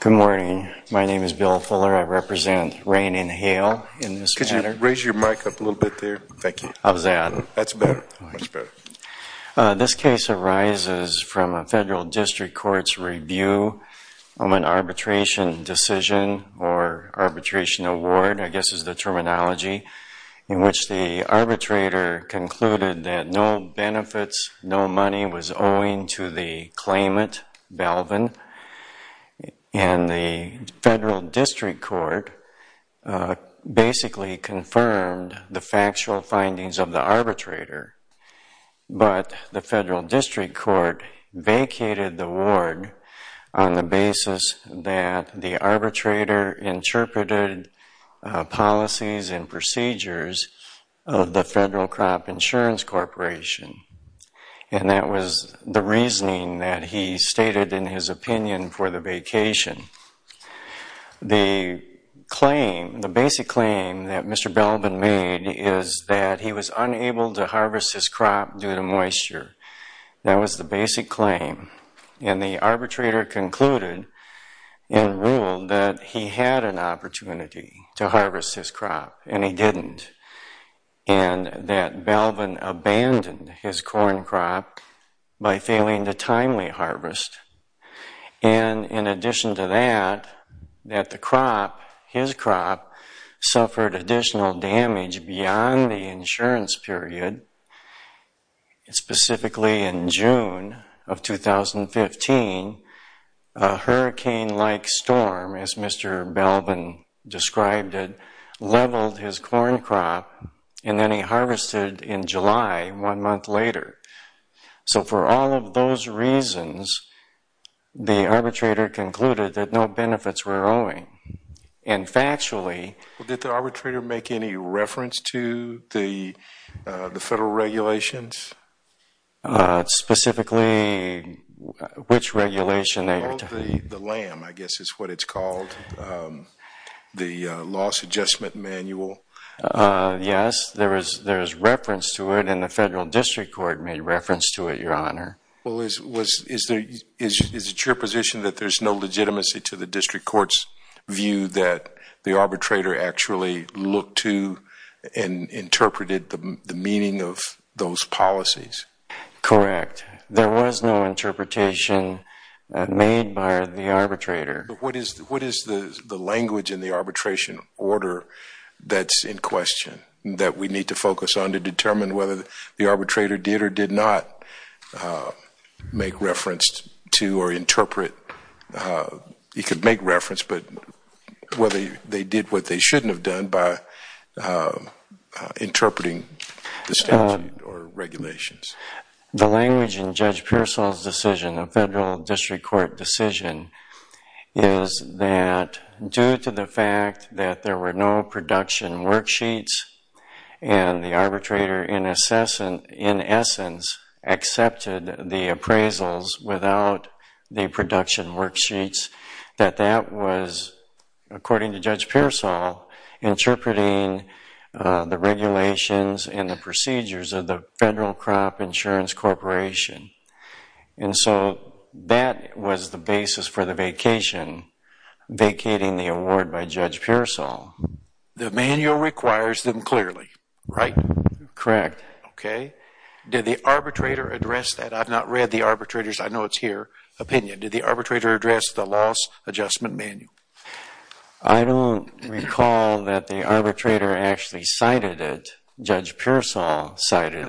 Good morning. My name is Bill Fuller. I represent Rain and Hail in this matter. This case arises from a federal district court's review of an arbitration decision or arbitration award, I guess is the terminology, in which the arbitrator concluded that no benefits, no money was owing to the claimant, Balvin, and the federal district court basically confirmed the factual findings of the arbitrator. But the federal district court vacated the award on the basis that the arbitrator interpreted policies and procedures of the Federal Crop Insurance Corporation. And that was the reasoning that he stated in his opinion for the vacation. The claim, the basic claim that Mr. Balvin made is that he was unable to harvest his crop due to moisture. That was the basic claim. And the arbitrator concluded and ruled that he had an opportunity to harvest his crop, and he didn't. And that Balvin abandoned his corn crop by failing the timely harvest. And in addition to that, that the crop, his crop, suffered additional damage beyond the insurance period, specifically in June of 2015, a hurricane-like storm, as Mr. Balvin described it, leveled his corn crop, and then he harvested in July, one month later. So for all of those reasons, the arbitrator concluded that no benefits were owing. And factually... Well, did the arbitrator make any reference to the federal regulations? The LAM, I guess is what it's called. The loss adjustment manual. Yes, there is reference to it, and the federal district court made reference to it, Your Honor. Well, is it your position that there's no legitimacy to the district court's view that the arbitrator actually looked to and interpreted the meaning of those policies? Correct. There was no interpretation made by the arbitrator. But what is the language in the arbitration order that's in question, that we need to focus on to determine whether the arbitrator did or did not make reference to or interpret... He could make reference, but whether they did what they shouldn't have done by interpreting the statute or regulations. The language in Judge Pearsall's decision, the federal district court decision, is that due to the fact that there were no production worksheets, and the arbitrator in essence accepted the appraisals without the production worksheets, that that was, according to Judge Pearsall, interpreting the regulations and the procedures of the Federal Crop Insurance Corporation. And so that was the basis for the vacation, vacating the award by Judge Pearsall. The manual requires them clearly, right? Correct. Okay. Did the arbitrator address that? I've not read the arbitrator's, I know it's here, opinion. Did the arbitrator address the loss adjustment manual? I don't recall that the arbitrator actually cited it. Judge Pearsall cited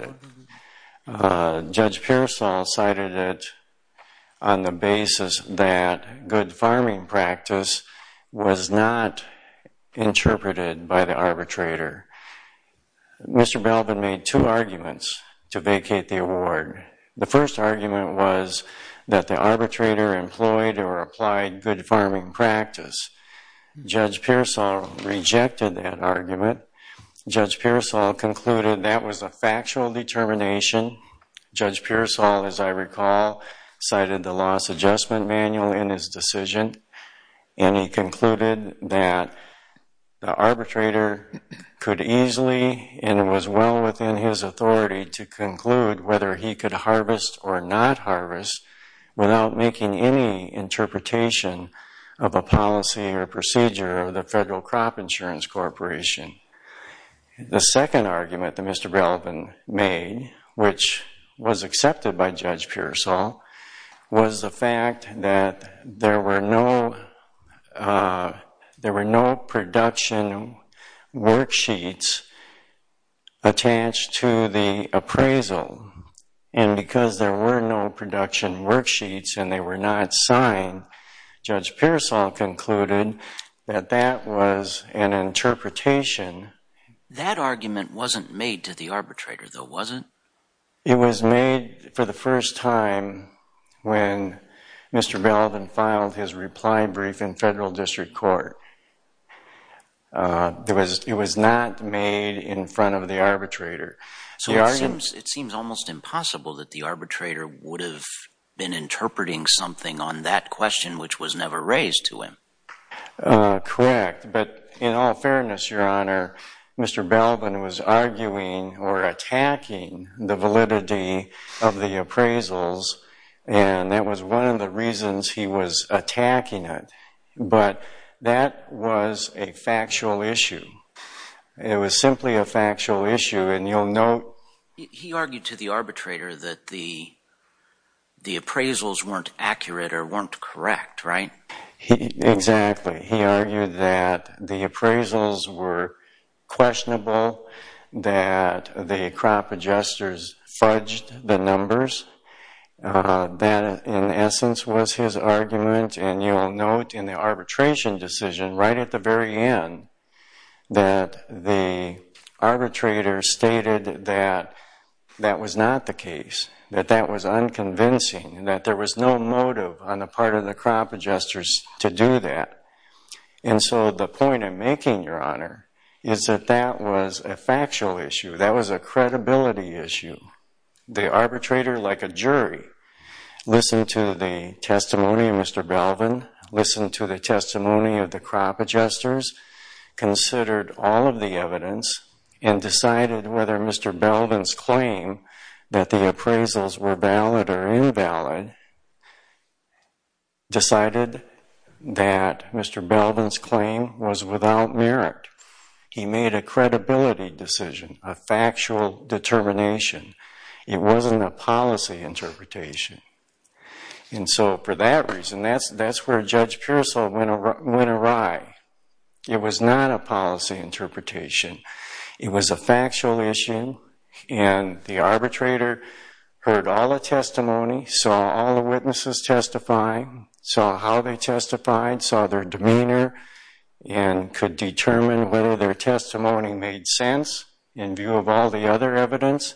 it. Judge Pearsall cited it on the basis that good farming practice was not interpreted by the arbitrator. Mr. Belbin made two arguments to vacate the award. The first argument was that the arbitrator employed or applied good farming practice. Judge Pearsall rejected that argument. Judge Pearsall concluded that was a factual determination. Judge Pearsall, as I recall, cited the loss adjustment manual in his decision, and he concluded that the arbitrator could easily, and it was well within his authority, to conclude whether he could harvest or not harvest without making any interpretation of a policy or procedure of the Federal Crop Insurance Corporation. The second argument that Mr. Belbin made, which was accepted by Judge Pearsall, was the fact that there were no production worksheets attached to the appraisal, and because there were no production worksheets and they were not signed, Judge Pearsall concluded that that was an interpretation. That argument wasn't made to the arbitrator, though, was it? It was made for the first time when Mr. Belbin filed his reply brief in federal district court. It was not made in front of the arbitrator. So it seems almost impossible that the arbitrator would have been interpreting something on that question, which was never raised to him. Correct. But in all fairness, Your Honor, Mr. Belbin was arguing or attacking the validity of the appraisals, and that was one of the reasons he was attacking it. But that was a factual issue. It was simply a factual issue, and you'll note... He argued to the arbitrator that the appraisals weren't accurate or weren't correct, right? Exactly. He argued that the appraisals were questionable, that the crop adjusters fudged the numbers. That, in essence, was his argument, and you'll note in the arbitration decision right at the very end that the arbitrator stated that that was not the case, that that was unconvincing, and that there was no motive on the part of the crop adjusters to do that. And so the point I'm making, Your Honor, is that that was a factual issue. That was a credibility issue. The arbitrator, like a jury, listened to the testimony of Mr. Belbin, listened to the testimony of the crop adjusters, considered all of the evidence, and decided whether Mr. Belbin's claim that the appraisals were valid or invalid, decided that Mr. Belbin's claim was without merit. He made a credibility decision, a factual determination. It wasn't a policy interpretation. And so for that reason, that's where Judge Pearsall went awry. It was not a policy interpretation. It was a factual issue, and the arbitrator heard all the testimony, saw all the witnesses testify, saw how they testified, saw their demeanor, and could determine whether their testimony made sense in view of all the other evidence,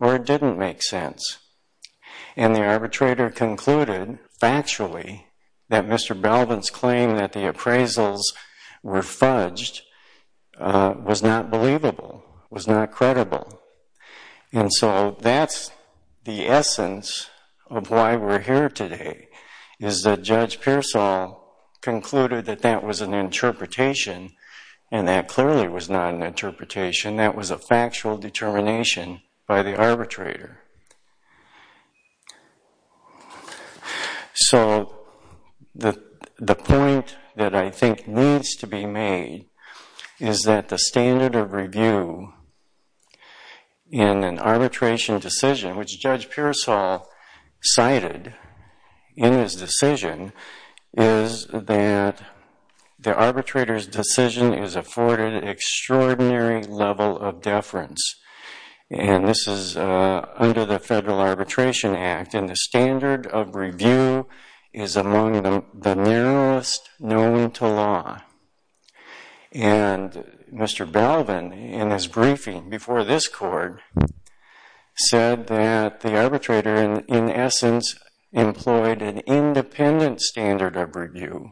or it didn't make sense. And the arbitrator concluded, factually, that Mr. Belbin's claim that the appraisals were fudged was not believable, was not credible. And so that's the essence of why we're here today, is that Judge Pearsall concluded that that was an interpretation, and that clearly was not an interpretation. That was a factual determination by the arbitrator. So the point that I think needs to be made is that the standard of review in an arbitration decision, which Judge Pearsall cited in his decision, is that the arbitrator's decision is afforded an extraordinary level of deference. And this is under the Federal Arbitration Act, and the standard of review is among the narrowest known to law. And Mr. Belbin, in his briefing before this court, said that the arbitrator, in essence, employed an independent standard of review.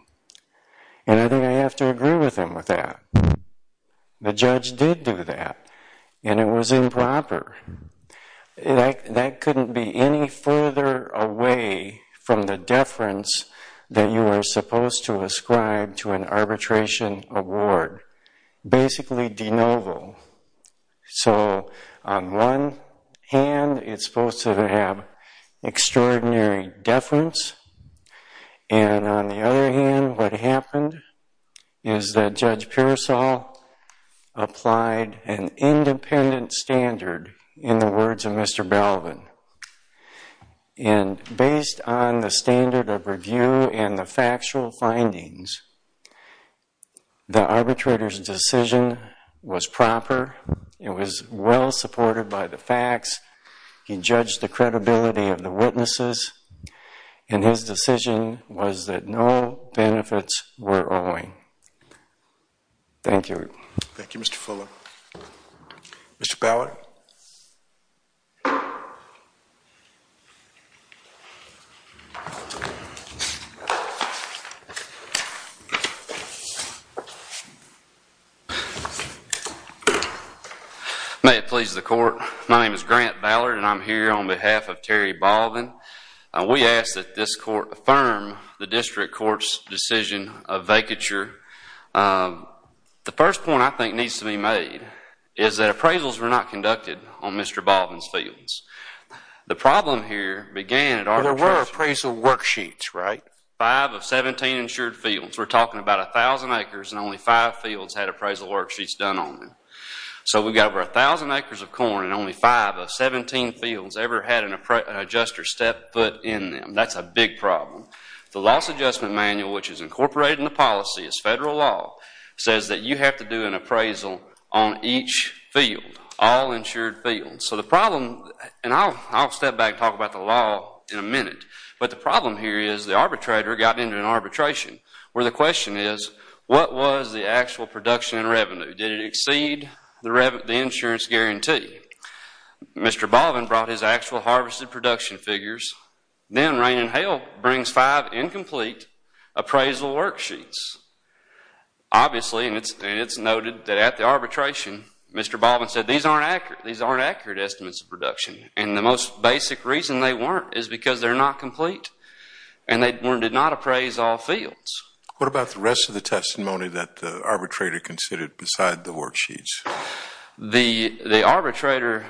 And I think I have to agree with him with that. The judge did do that, and it was improper. That couldn't be any further away from the deference that you are supposed to ascribe to an arbitration award. Basically, de novo. So on one hand, it's supposed to have extraordinary deference, and on the other hand, what happened is that Judge Pearsall applied an independent standard in the words of Mr. Belbin. And based on the standard of review and the factual findings, the arbitrator's decision was proper. It was well supported by the facts. He judged the credibility of the witnesses, and his decision was that no benefits were owing. Thank you. Thank you, Mr. Fuller. Mr. Ballard. May it please the court. My name is Grant Ballard, and I'm here on behalf of Terry Balvin. We ask that this court affirm the district court's decision of vacature. The first point I think needs to be made is that appraisals were not conducted on Mr. Balvin's fields. The problem here began at arbitration. There were appraisal worksheets, right? Five of 17 insured fields. We're talking about 1,000 acres, and only five fields had appraisal worksheets done on them. So we've got over 1,000 acres of corn and only five of 17 fields ever had an adjuster step foot in them. That's a big problem. The loss adjustment manual, which is incorporated in the policy as federal law, says that you have to do an appraisal on each field, all insured fields. So the problem, and I'll step back and talk about the law in a minute, but the problem here is the arbitrator got into an arbitration where the question is, what was the actual production and revenue? Did it exceed the insurance guarantee? Mr. Balvin brought his actual harvested production figures. Then rain and hail brings five incomplete appraisal worksheets. Obviously, and it's noted that at the arbitration, Mr. Balvin said, these aren't accurate. These aren't accurate estimates of production. And the most basic reason they weren't is because they're not complete, and they did not appraise all fields. What about the rest of the testimony that the arbitrator considered beside the worksheets? The arbitrator,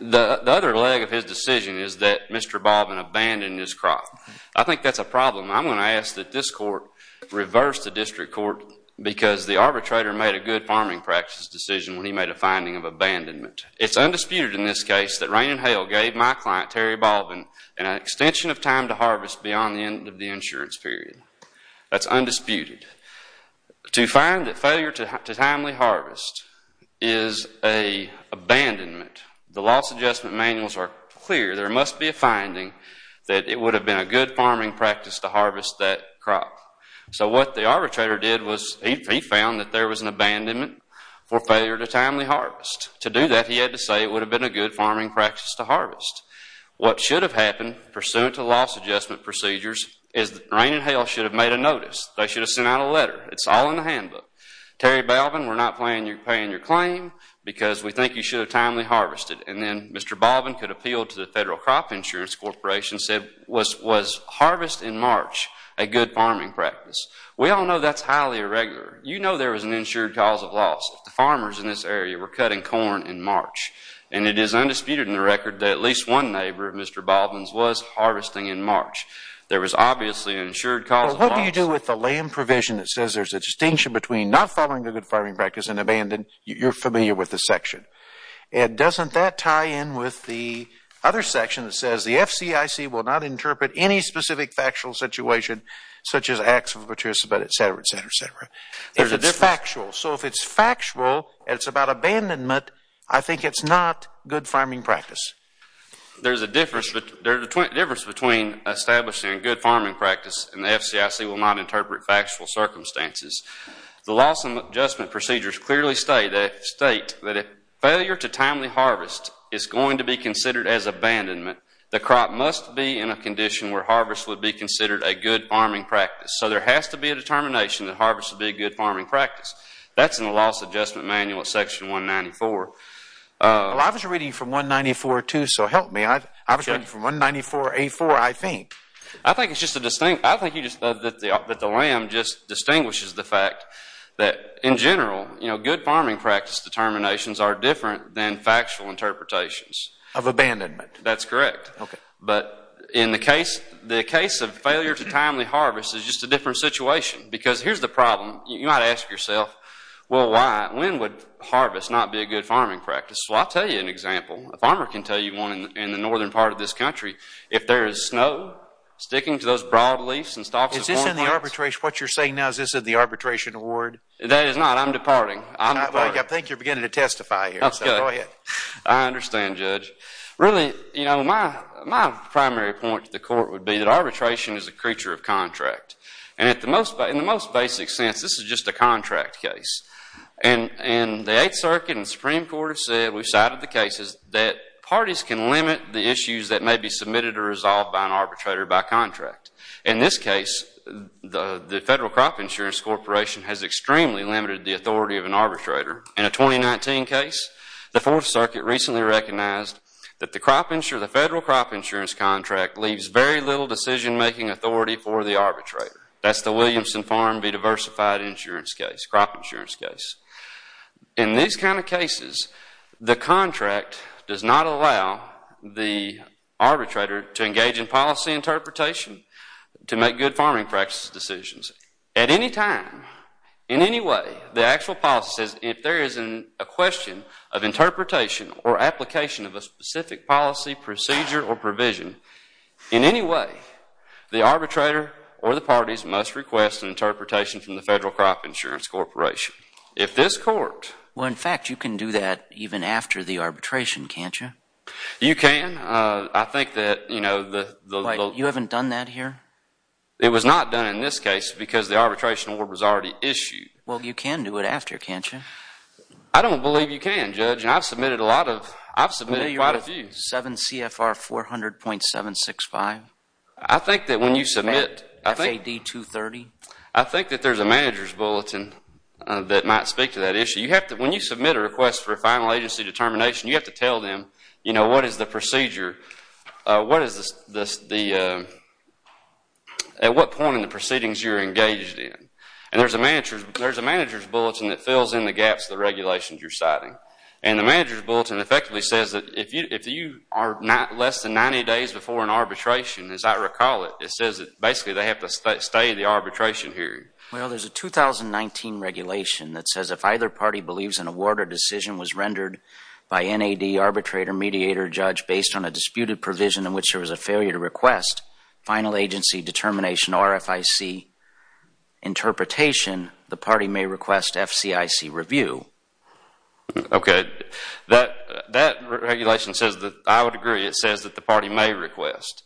the other leg of his decision is that Mr. Balvin abandoned his crop. I think that's a problem. I'm going to ask that this court reverse the district court because the arbitrator made a good farming practices decision when he made a finding of abandonment. It's undisputed in this case that rain and hail gave my client, Terry Balvin, an extension of time to harvest beyond the end of the insurance period. That's undisputed. To find that failure to timely harvest is an abandonment, the loss adjustment manuals are clear. There must be a finding that it would have been a good farming practice to harvest that crop. So what the arbitrator did was he found that there was an abandonment for failure to timely harvest. To do that, he had to say it would have been a good farming practice to harvest. What should have happened, pursuant to loss adjustment procedures, is that rain and hail should have made a notice. They should have sent out a letter. It's all in the handbook. Terry Balvin, we're not paying your claim because we think you should have timely harvested. And then Mr. Balvin could appeal to the Federal Crop Insurance Corporation and said, was harvest in March a good farming practice? We all know that's highly irregular. You know there was an insured cause of loss. The farmers in this area were cutting corn in March. And it is undisputed in the record that at least one neighbor, Mr. Balvin's, was harvesting in March. There was obviously an insured cause of loss. Well, what do you do with the land provision that says there's a distinction between not following a good farming practice and abandon? You're familiar with the section. And doesn't that tie in with the other section that says the FCIC will not interpret any specific factual situation, such as acts of patricipate, et cetera, et cetera, et cetera. They're factual. So if it's factual and it's about abandonment, I think it's not good farming practice. There's a difference between establishing a good farming practice and the FCIC will not interpret factual circumstances. The loss adjustment procedures clearly state that if failure to timely harvest is going to be considered as abandonment, the crop must be in a condition where harvest would be considered a good farming practice. So there has to be a determination that harvest would be a good farming practice. That's in the loss adjustment manual at section 194. Well, I was reading from 194 too, so help me. I was reading from 194A4, I think. I think it's just a distinction. I think you just said that the lamb just distinguishes the fact that, in general, good farming practice determinations are different than factual interpretations. Of abandonment. That's correct. But in the case of failure to timely harvest is just a different situation. Because here's the problem. You might ask yourself, well, why? When would harvest not be a good farming practice? Well, I'll tell you an example. A farmer can tell you one in the northern part of this country. If there is snow sticking to those broad leaves and stalks of corn. Is this in the arbitration? What you're saying now, is this in the arbitration award? That is not. I'm departing. I think you're beginning to testify here. Go ahead. I understand, Judge. Really, my primary point to the court would be that arbitration is a creature of contract. And in the most basic sense, this is just a contract case. And the Eighth Circuit and the Supreme Court have said, we've cited the cases, that parties can limit the issues that may be submitted or resolved by an arbitrator by contract. In this case, the Federal Crop Insurance Corporation has extremely limited the authority of an arbitrator. In a 2019 case, the Fourth Circuit recently recognized that the Federal Crop Insurance Contract leaves very little decision-making authority for the arbitrator. That's the Williamson Farm v. Diversified Insurance case, crop insurance case. In these kind of cases, the contract does not allow the arbitrator to engage in policy interpretation to make good farming practice decisions. At any time, in any way, the actual policy says, if there is a question of interpretation or application of a specific policy, procedure, or provision, in any way, the arbitrator or the parties must request an interpretation from the Federal Crop Insurance Corporation. If this court... Well, in fact, you can do that even after the arbitration, can't you? You can. I think that, you know, the... Wait, you haven't done that here? It was not done in this case, because the arbitration order was already issued. Well, you can do it after, can't you? I don't believe you can, Judge. I've submitted a lot of... I've submitted quite a few. 7 CFR 400.765. I think that when you submit... FAD 230. I think that there's a manager's bulletin that might speak to that issue. When you submit a request for a final agency determination, you have to tell them, you know, what is the procedure, what is the... at what point in the proceedings you're engaged in. And there's a manager's bulletin that fills in the gaps of the regulations you're citing. And the manager's bulletin effectively says that if you are not less than 90 days before an arbitration, as I recall it, it says that basically they have to stay the arbitration hearing. Well, there's a 2019 regulation that says if either party believes an award or decision was rendered by NAD, arbitrator, mediator, judge, based on a disputed provision in which there was a failure to request final agency determination, RFIC interpretation, the party may request FCIC review. Okay. That regulation says that... I would agree it says that the party may request.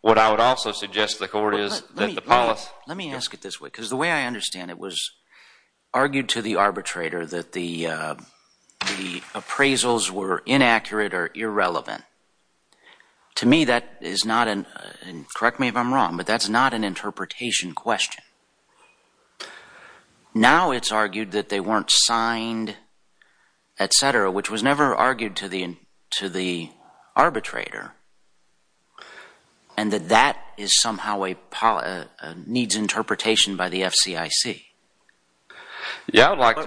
What I would also suggest to the court is that the policy... Let me ask it this way, because the way I understand it was argued to the arbitrator that the appraisals were inaccurate or irrelevant. To me, that is not an... Now it's argued that they weren't signed, et cetera, which was never argued to the arbitrator, and that that somehow needs interpretation by the FCIC.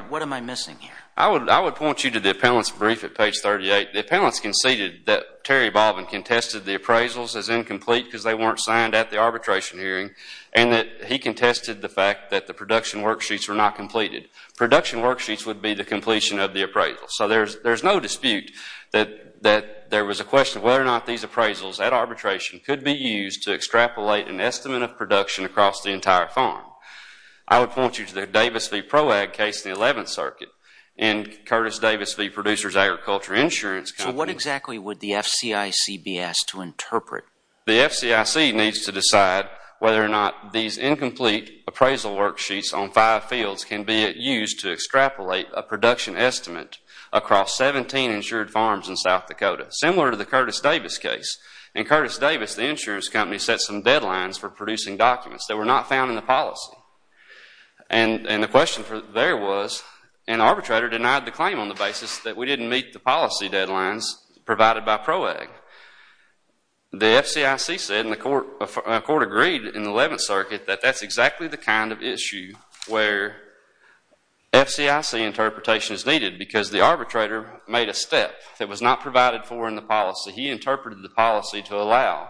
What am I missing here? I would point you to the appellant's brief at page 38. The appellant's conceded that Terry Baldwin contested the appraisals as incomplete because they weren't signed at the arbitration hearing and that he contested the fact that the production worksheets were not completed. Production worksheets would be the completion of the appraisal. So there's no dispute that there was a question of whether or not these appraisals at arbitration could be used to extrapolate an estimate of production across the entire farm. I would point you to the Davis v. Proag case in the 11th Circuit and Curtis Davis v. Producers Agriculture Insurance Company. So what exactly would the FCIC be asked to interpret? The FCIC needs to decide whether or not these incomplete appraisal worksheets on five fields can be used to extrapolate a production estimate across 17 insured farms in South Dakota, similar to the Curtis Davis case. In Curtis Davis, the insurance company set some deadlines for producing documents that were not found in the policy, and the question there was an arbitrator denied the claim on the basis that we didn't meet the policy deadlines provided by Proag. The FCIC said, and the court agreed in the 11th Circuit, that that's exactly the kind of issue where FCIC interpretation is needed because the arbitrator made a step that was not provided for in the policy. He interpreted the policy to allow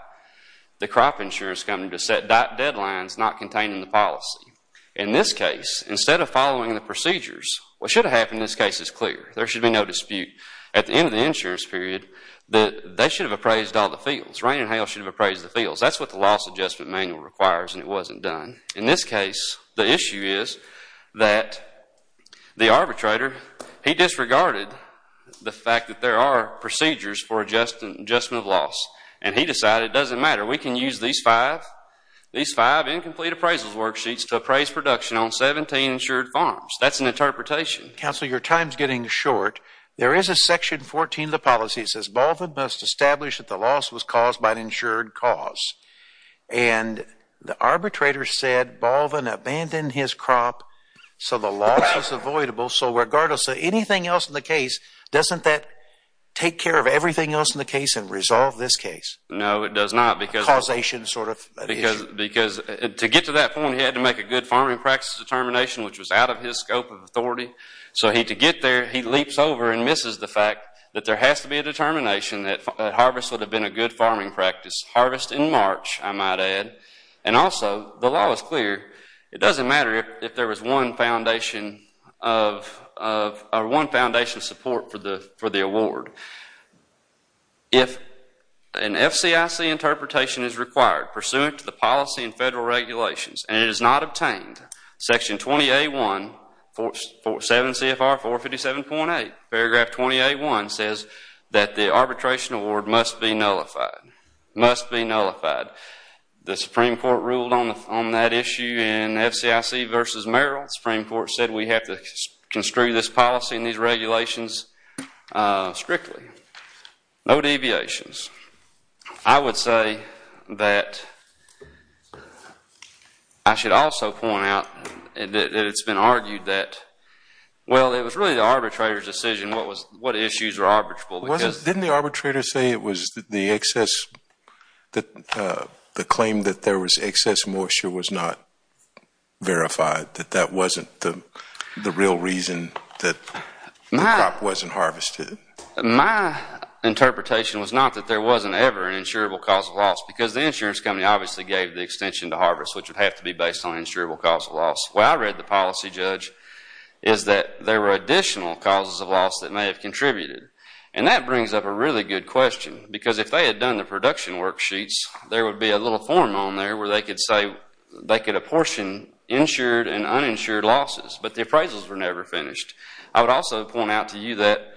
the crop insurance company to set deadlines not contained in the policy. In this case, instead of following the procedures, what should have happened in this case is clear. There should be no dispute at the end of the insurance period that they should have appraised all the fields. Rain and hail should have appraised the fields. That's what the loss adjustment manual requires, and it wasn't done. In this case, the issue is that the arbitrator, he disregarded the fact that there are procedures for adjustment of loss, and he decided it doesn't matter. We can use these five incomplete appraisal worksheets to appraise production on 17 insured farms. That's an interpretation. Counsel, your time's getting short. There is a section 14 of the policy. It says, Baldwin must establish that the loss was caused by an insured cause. And the arbitrator said Baldwin abandoned his crop, so the loss was avoidable. So regardless of anything else in the case, doesn't that take care of everything else in the case and resolve this case? No, it does not. A causation sort of issue. Because to get to that point, he had to make a good farming practice determination, which was out of his scope of authority. So to get there, he leaps over and misses the fact that there has to be a determination that harvest would have been a good farming practice. Harvest in March, I might add. And also, the law is clear. It doesn't matter if there was one foundation of support for the award. If an FCIC interpretation is required, pursuant to the policy and federal regulations, and it is not obtained, section 20A1, 7 CFR 457.8, paragraph 20A1 says that the arbitration award must be nullified. Must be nullified. The Supreme Court ruled on that issue in FCIC v. Merrill. The Supreme Court said we have to construe this policy and these regulations strictly. No deviations. I would say that I should also point out that it's been argued that, well, it was really the arbitrator's decision what issues were arbitrable. Didn't the arbitrator say it was the claim that there was excess moisture was not verified, that that wasn't the real reason that the crop wasn't harvested? My interpretation was not that there wasn't ever an insurable cause of loss because the insurance company obviously gave the extension to harvest, which would have to be based on insurable cause of loss. Where I read the policy, Judge, is that there were additional causes of loss that may have contributed. And that brings up a really good question because if they had done the production worksheets, there would be a little form on there where they could say they could apportion insured and uninsured losses, but the appraisals were never finished. I would also point out to you that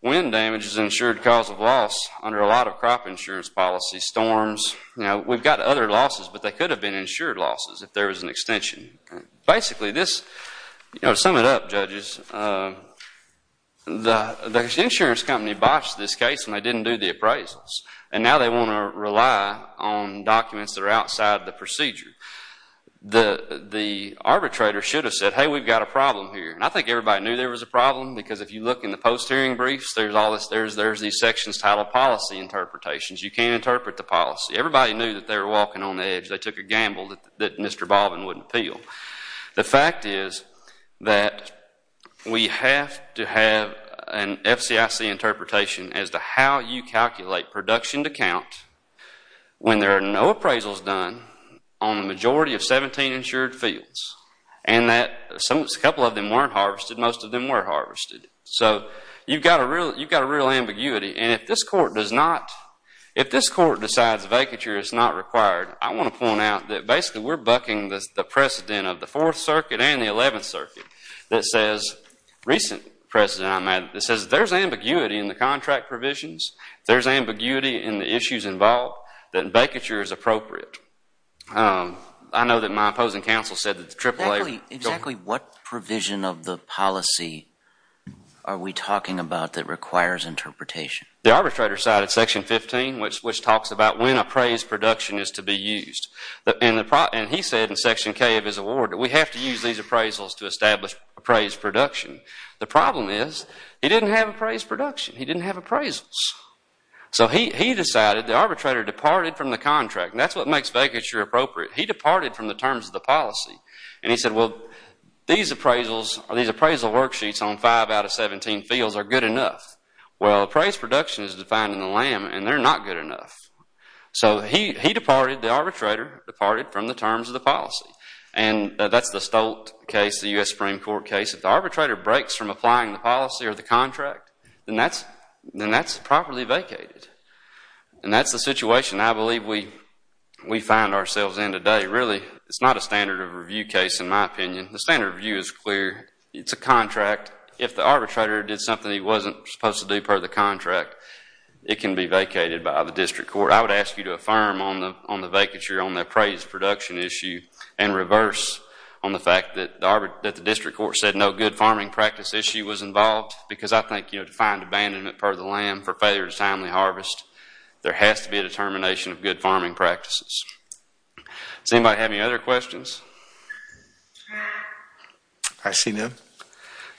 wind damage is an insured cause of loss under a lot of crop insurance policies, storms. We've got other losses, but they could have been insured losses if there was an extension. Basically, to sum it up, judges, the insurance company botched this case and they didn't do the appraisals, and now they want to rely on documents that are outside the procedure. The arbitrator should have said, hey, we've got a problem here. I think everybody knew there was a problem because if you look in the post-hearing briefs, there's these sections titled policy interpretations. You can't interpret the policy. Everybody knew that they were walking on the edge. They took a gamble that Mr. Baldwin wouldn't appeal. The fact is that we have to have an FCIC interpretation as to how you calculate production to count when there are no appraisals done on the majority of 17 insured fields and that a couple of them weren't harvested. Most of them were harvested. You've got a real ambiguity. If this court decides vacature is not required, I want to point out that basically we're bucking the precedent of the Fourth Circuit and the Eleventh Circuit that says there's ambiguity in the contract provisions, there's ambiguity in the issues involved, that vacature is appropriate. I know that my opposing counsel said that the AAA... Exactly what provision of the policy are we talking about that requires interpretation? The arbitrator cited Section 15, which talks about when appraised production is to be used. And he said in Section K of his award that we have to use these appraisals to establish appraised production. The problem is he didn't have appraised production. He didn't have appraisals. So he decided, the arbitrator departed from the contract. That's what makes vacature appropriate. He departed from the terms of the policy. And he said, well, these appraisal worksheets on 5 out of 17 fields are good enough. Well, appraised production is defined in the LAM and they're not good enough. So he departed, the arbitrator departed from the terms of the policy. And that's the Stolt case, the U.S. Supreme Court case. If the arbitrator breaks from applying the policy or the contract, then that's properly vacated. And that's the situation I believe we find ourselves in today. Really, it's not a standard of review case in my opinion. The standard of view is clear. It's a contract. If the arbitrator did something he wasn't supposed to do per the contract, it can be vacated by the district court. I would ask you to affirm on the vacature on the appraised production issue and reverse on the fact that the district court said no good farming practice issue was involved because I think to find abandonment per the LAM for failure to timely harvest, there has to be a determination of good farming practices. Does anybody have any other questions? I see none.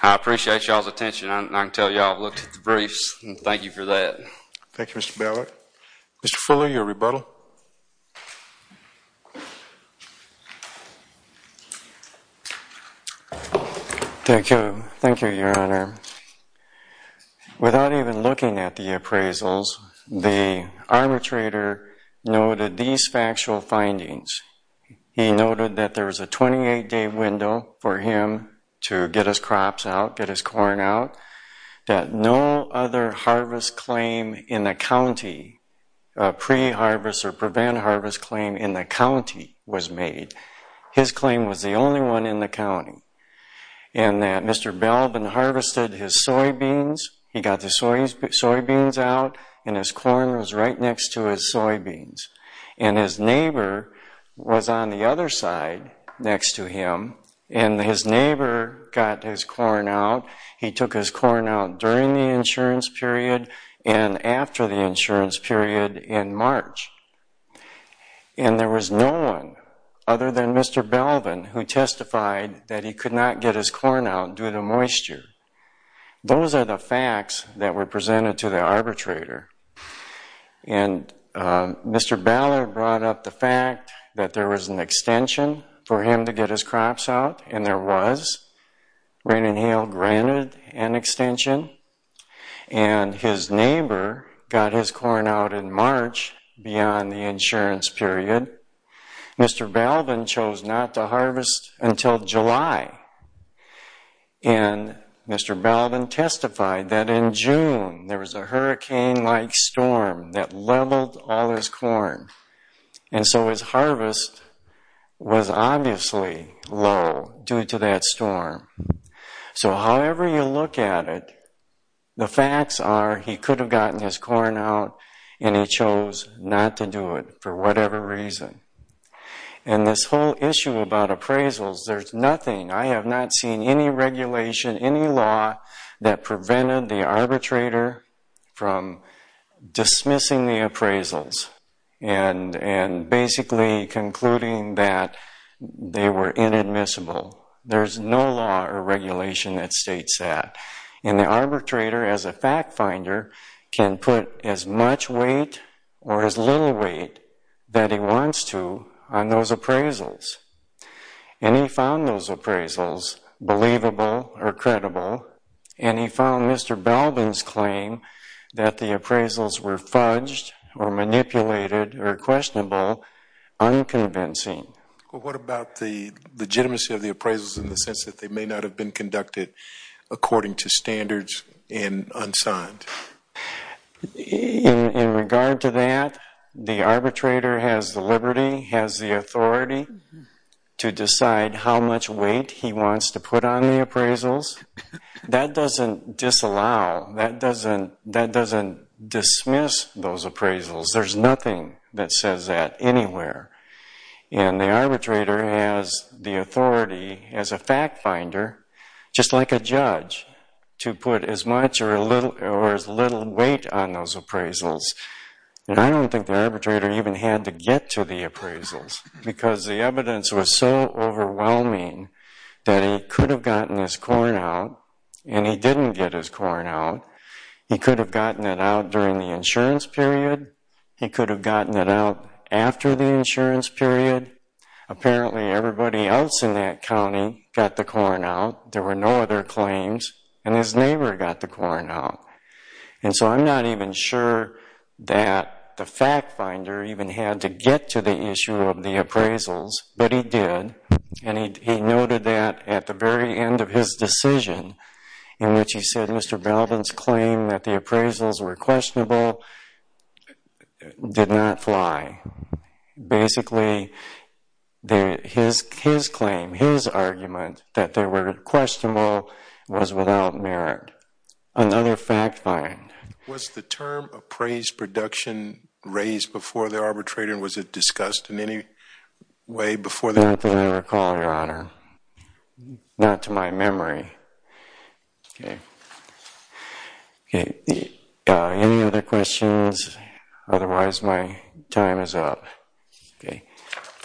I appreciate y'all's attention. I can tell y'all looked at the briefs. Thank you for that. Thank you, Mr. Ballard. Mr. Fuller, your rebuttal. Thank you. Thank you, Your Honor. Without even looking at the appraisals, the arbitrator noted these factual findings. He noted that there was a 28-day window for him to get his crops out, get his corn out, that no other harvest claim in the county, pre-harvest or prevent-harvest claim in the county was made. His claim was the only one in the county. And that Mr. Belbin harvested his soybeans. He got the soybeans out, and his corn was right next to his soybeans. And his neighbor was on the other side next to him, and his neighbor got his corn out. He took his corn out during the insurance period and after the insurance period in March. And there was no one other than Mr. Belbin who testified that he could not get his corn out due to moisture. Those are the facts that were presented to the arbitrator. And Mr. Ballard brought up the fact that there was an extension for him to get his crops out, and there was. Rain and hail granted an extension, and his neighbor got his corn out in March beyond the insurance period. Mr. Belbin chose not to harvest until July, and Mr. Belbin testified that in June there was a hurricane-like storm that leveled all his corn. And so his harvest was obviously low due to that storm. So however you look at it, the facts are he could have gotten his corn out, and he chose not to do it for whatever reason. And this whole issue about appraisals, there's nothing. I have not seen any regulation, any law that prevented the arbitrator from dismissing the appraisals. And basically concluding that they were inadmissible. There's no law or regulation that states that. And the arbitrator as a fact finder can put as much weight or as little weight that he wants to on those appraisals. And he found those appraisals believable or credible, and he found Mr. Belbin's claim that the appraisals were fudged or manipulated or questionable, unconvincing. What about the legitimacy of the appraisals in the sense that they may not have been conducted according to standards and unsigned? In regard to that, the arbitrator has the liberty, has the authority, to decide how much weight he wants to put on the appraisals. That doesn't disallow, that doesn't dismiss those appraisals. There's nothing that says that anywhere. And the arbitrator has the authority as a fact finder, just like a judge, to put as much or as little weight on those appraisals. And I don't think the arbitrator even had to get to the appraisals because the evidence was so overwhelming that he could have gotten his corn out, and he didn't get his corn out. He could have gotten it out during the insurance period. He could have gotten it out after the insurance period. Apparently everybody else in that county got the corn out. There were no other claims, and his neighbor got the corn out. And so I'm not even sure that the fact finder even had to get to the issue of the appraisals, but he did, and he noted that at the very end of his decision in which he said Mr. Belden's claim that the appraisals were questionable did not fly. Basically, his claim, his argument that they were questionable was without merit. Another fact find. Was the term appraised production raised before the arbitrator, and was it discussed in any way before the- I don't think I recall, Your Honor. Not to my memory. Okay. Any other questions? Otherwise, my time is up. Okay.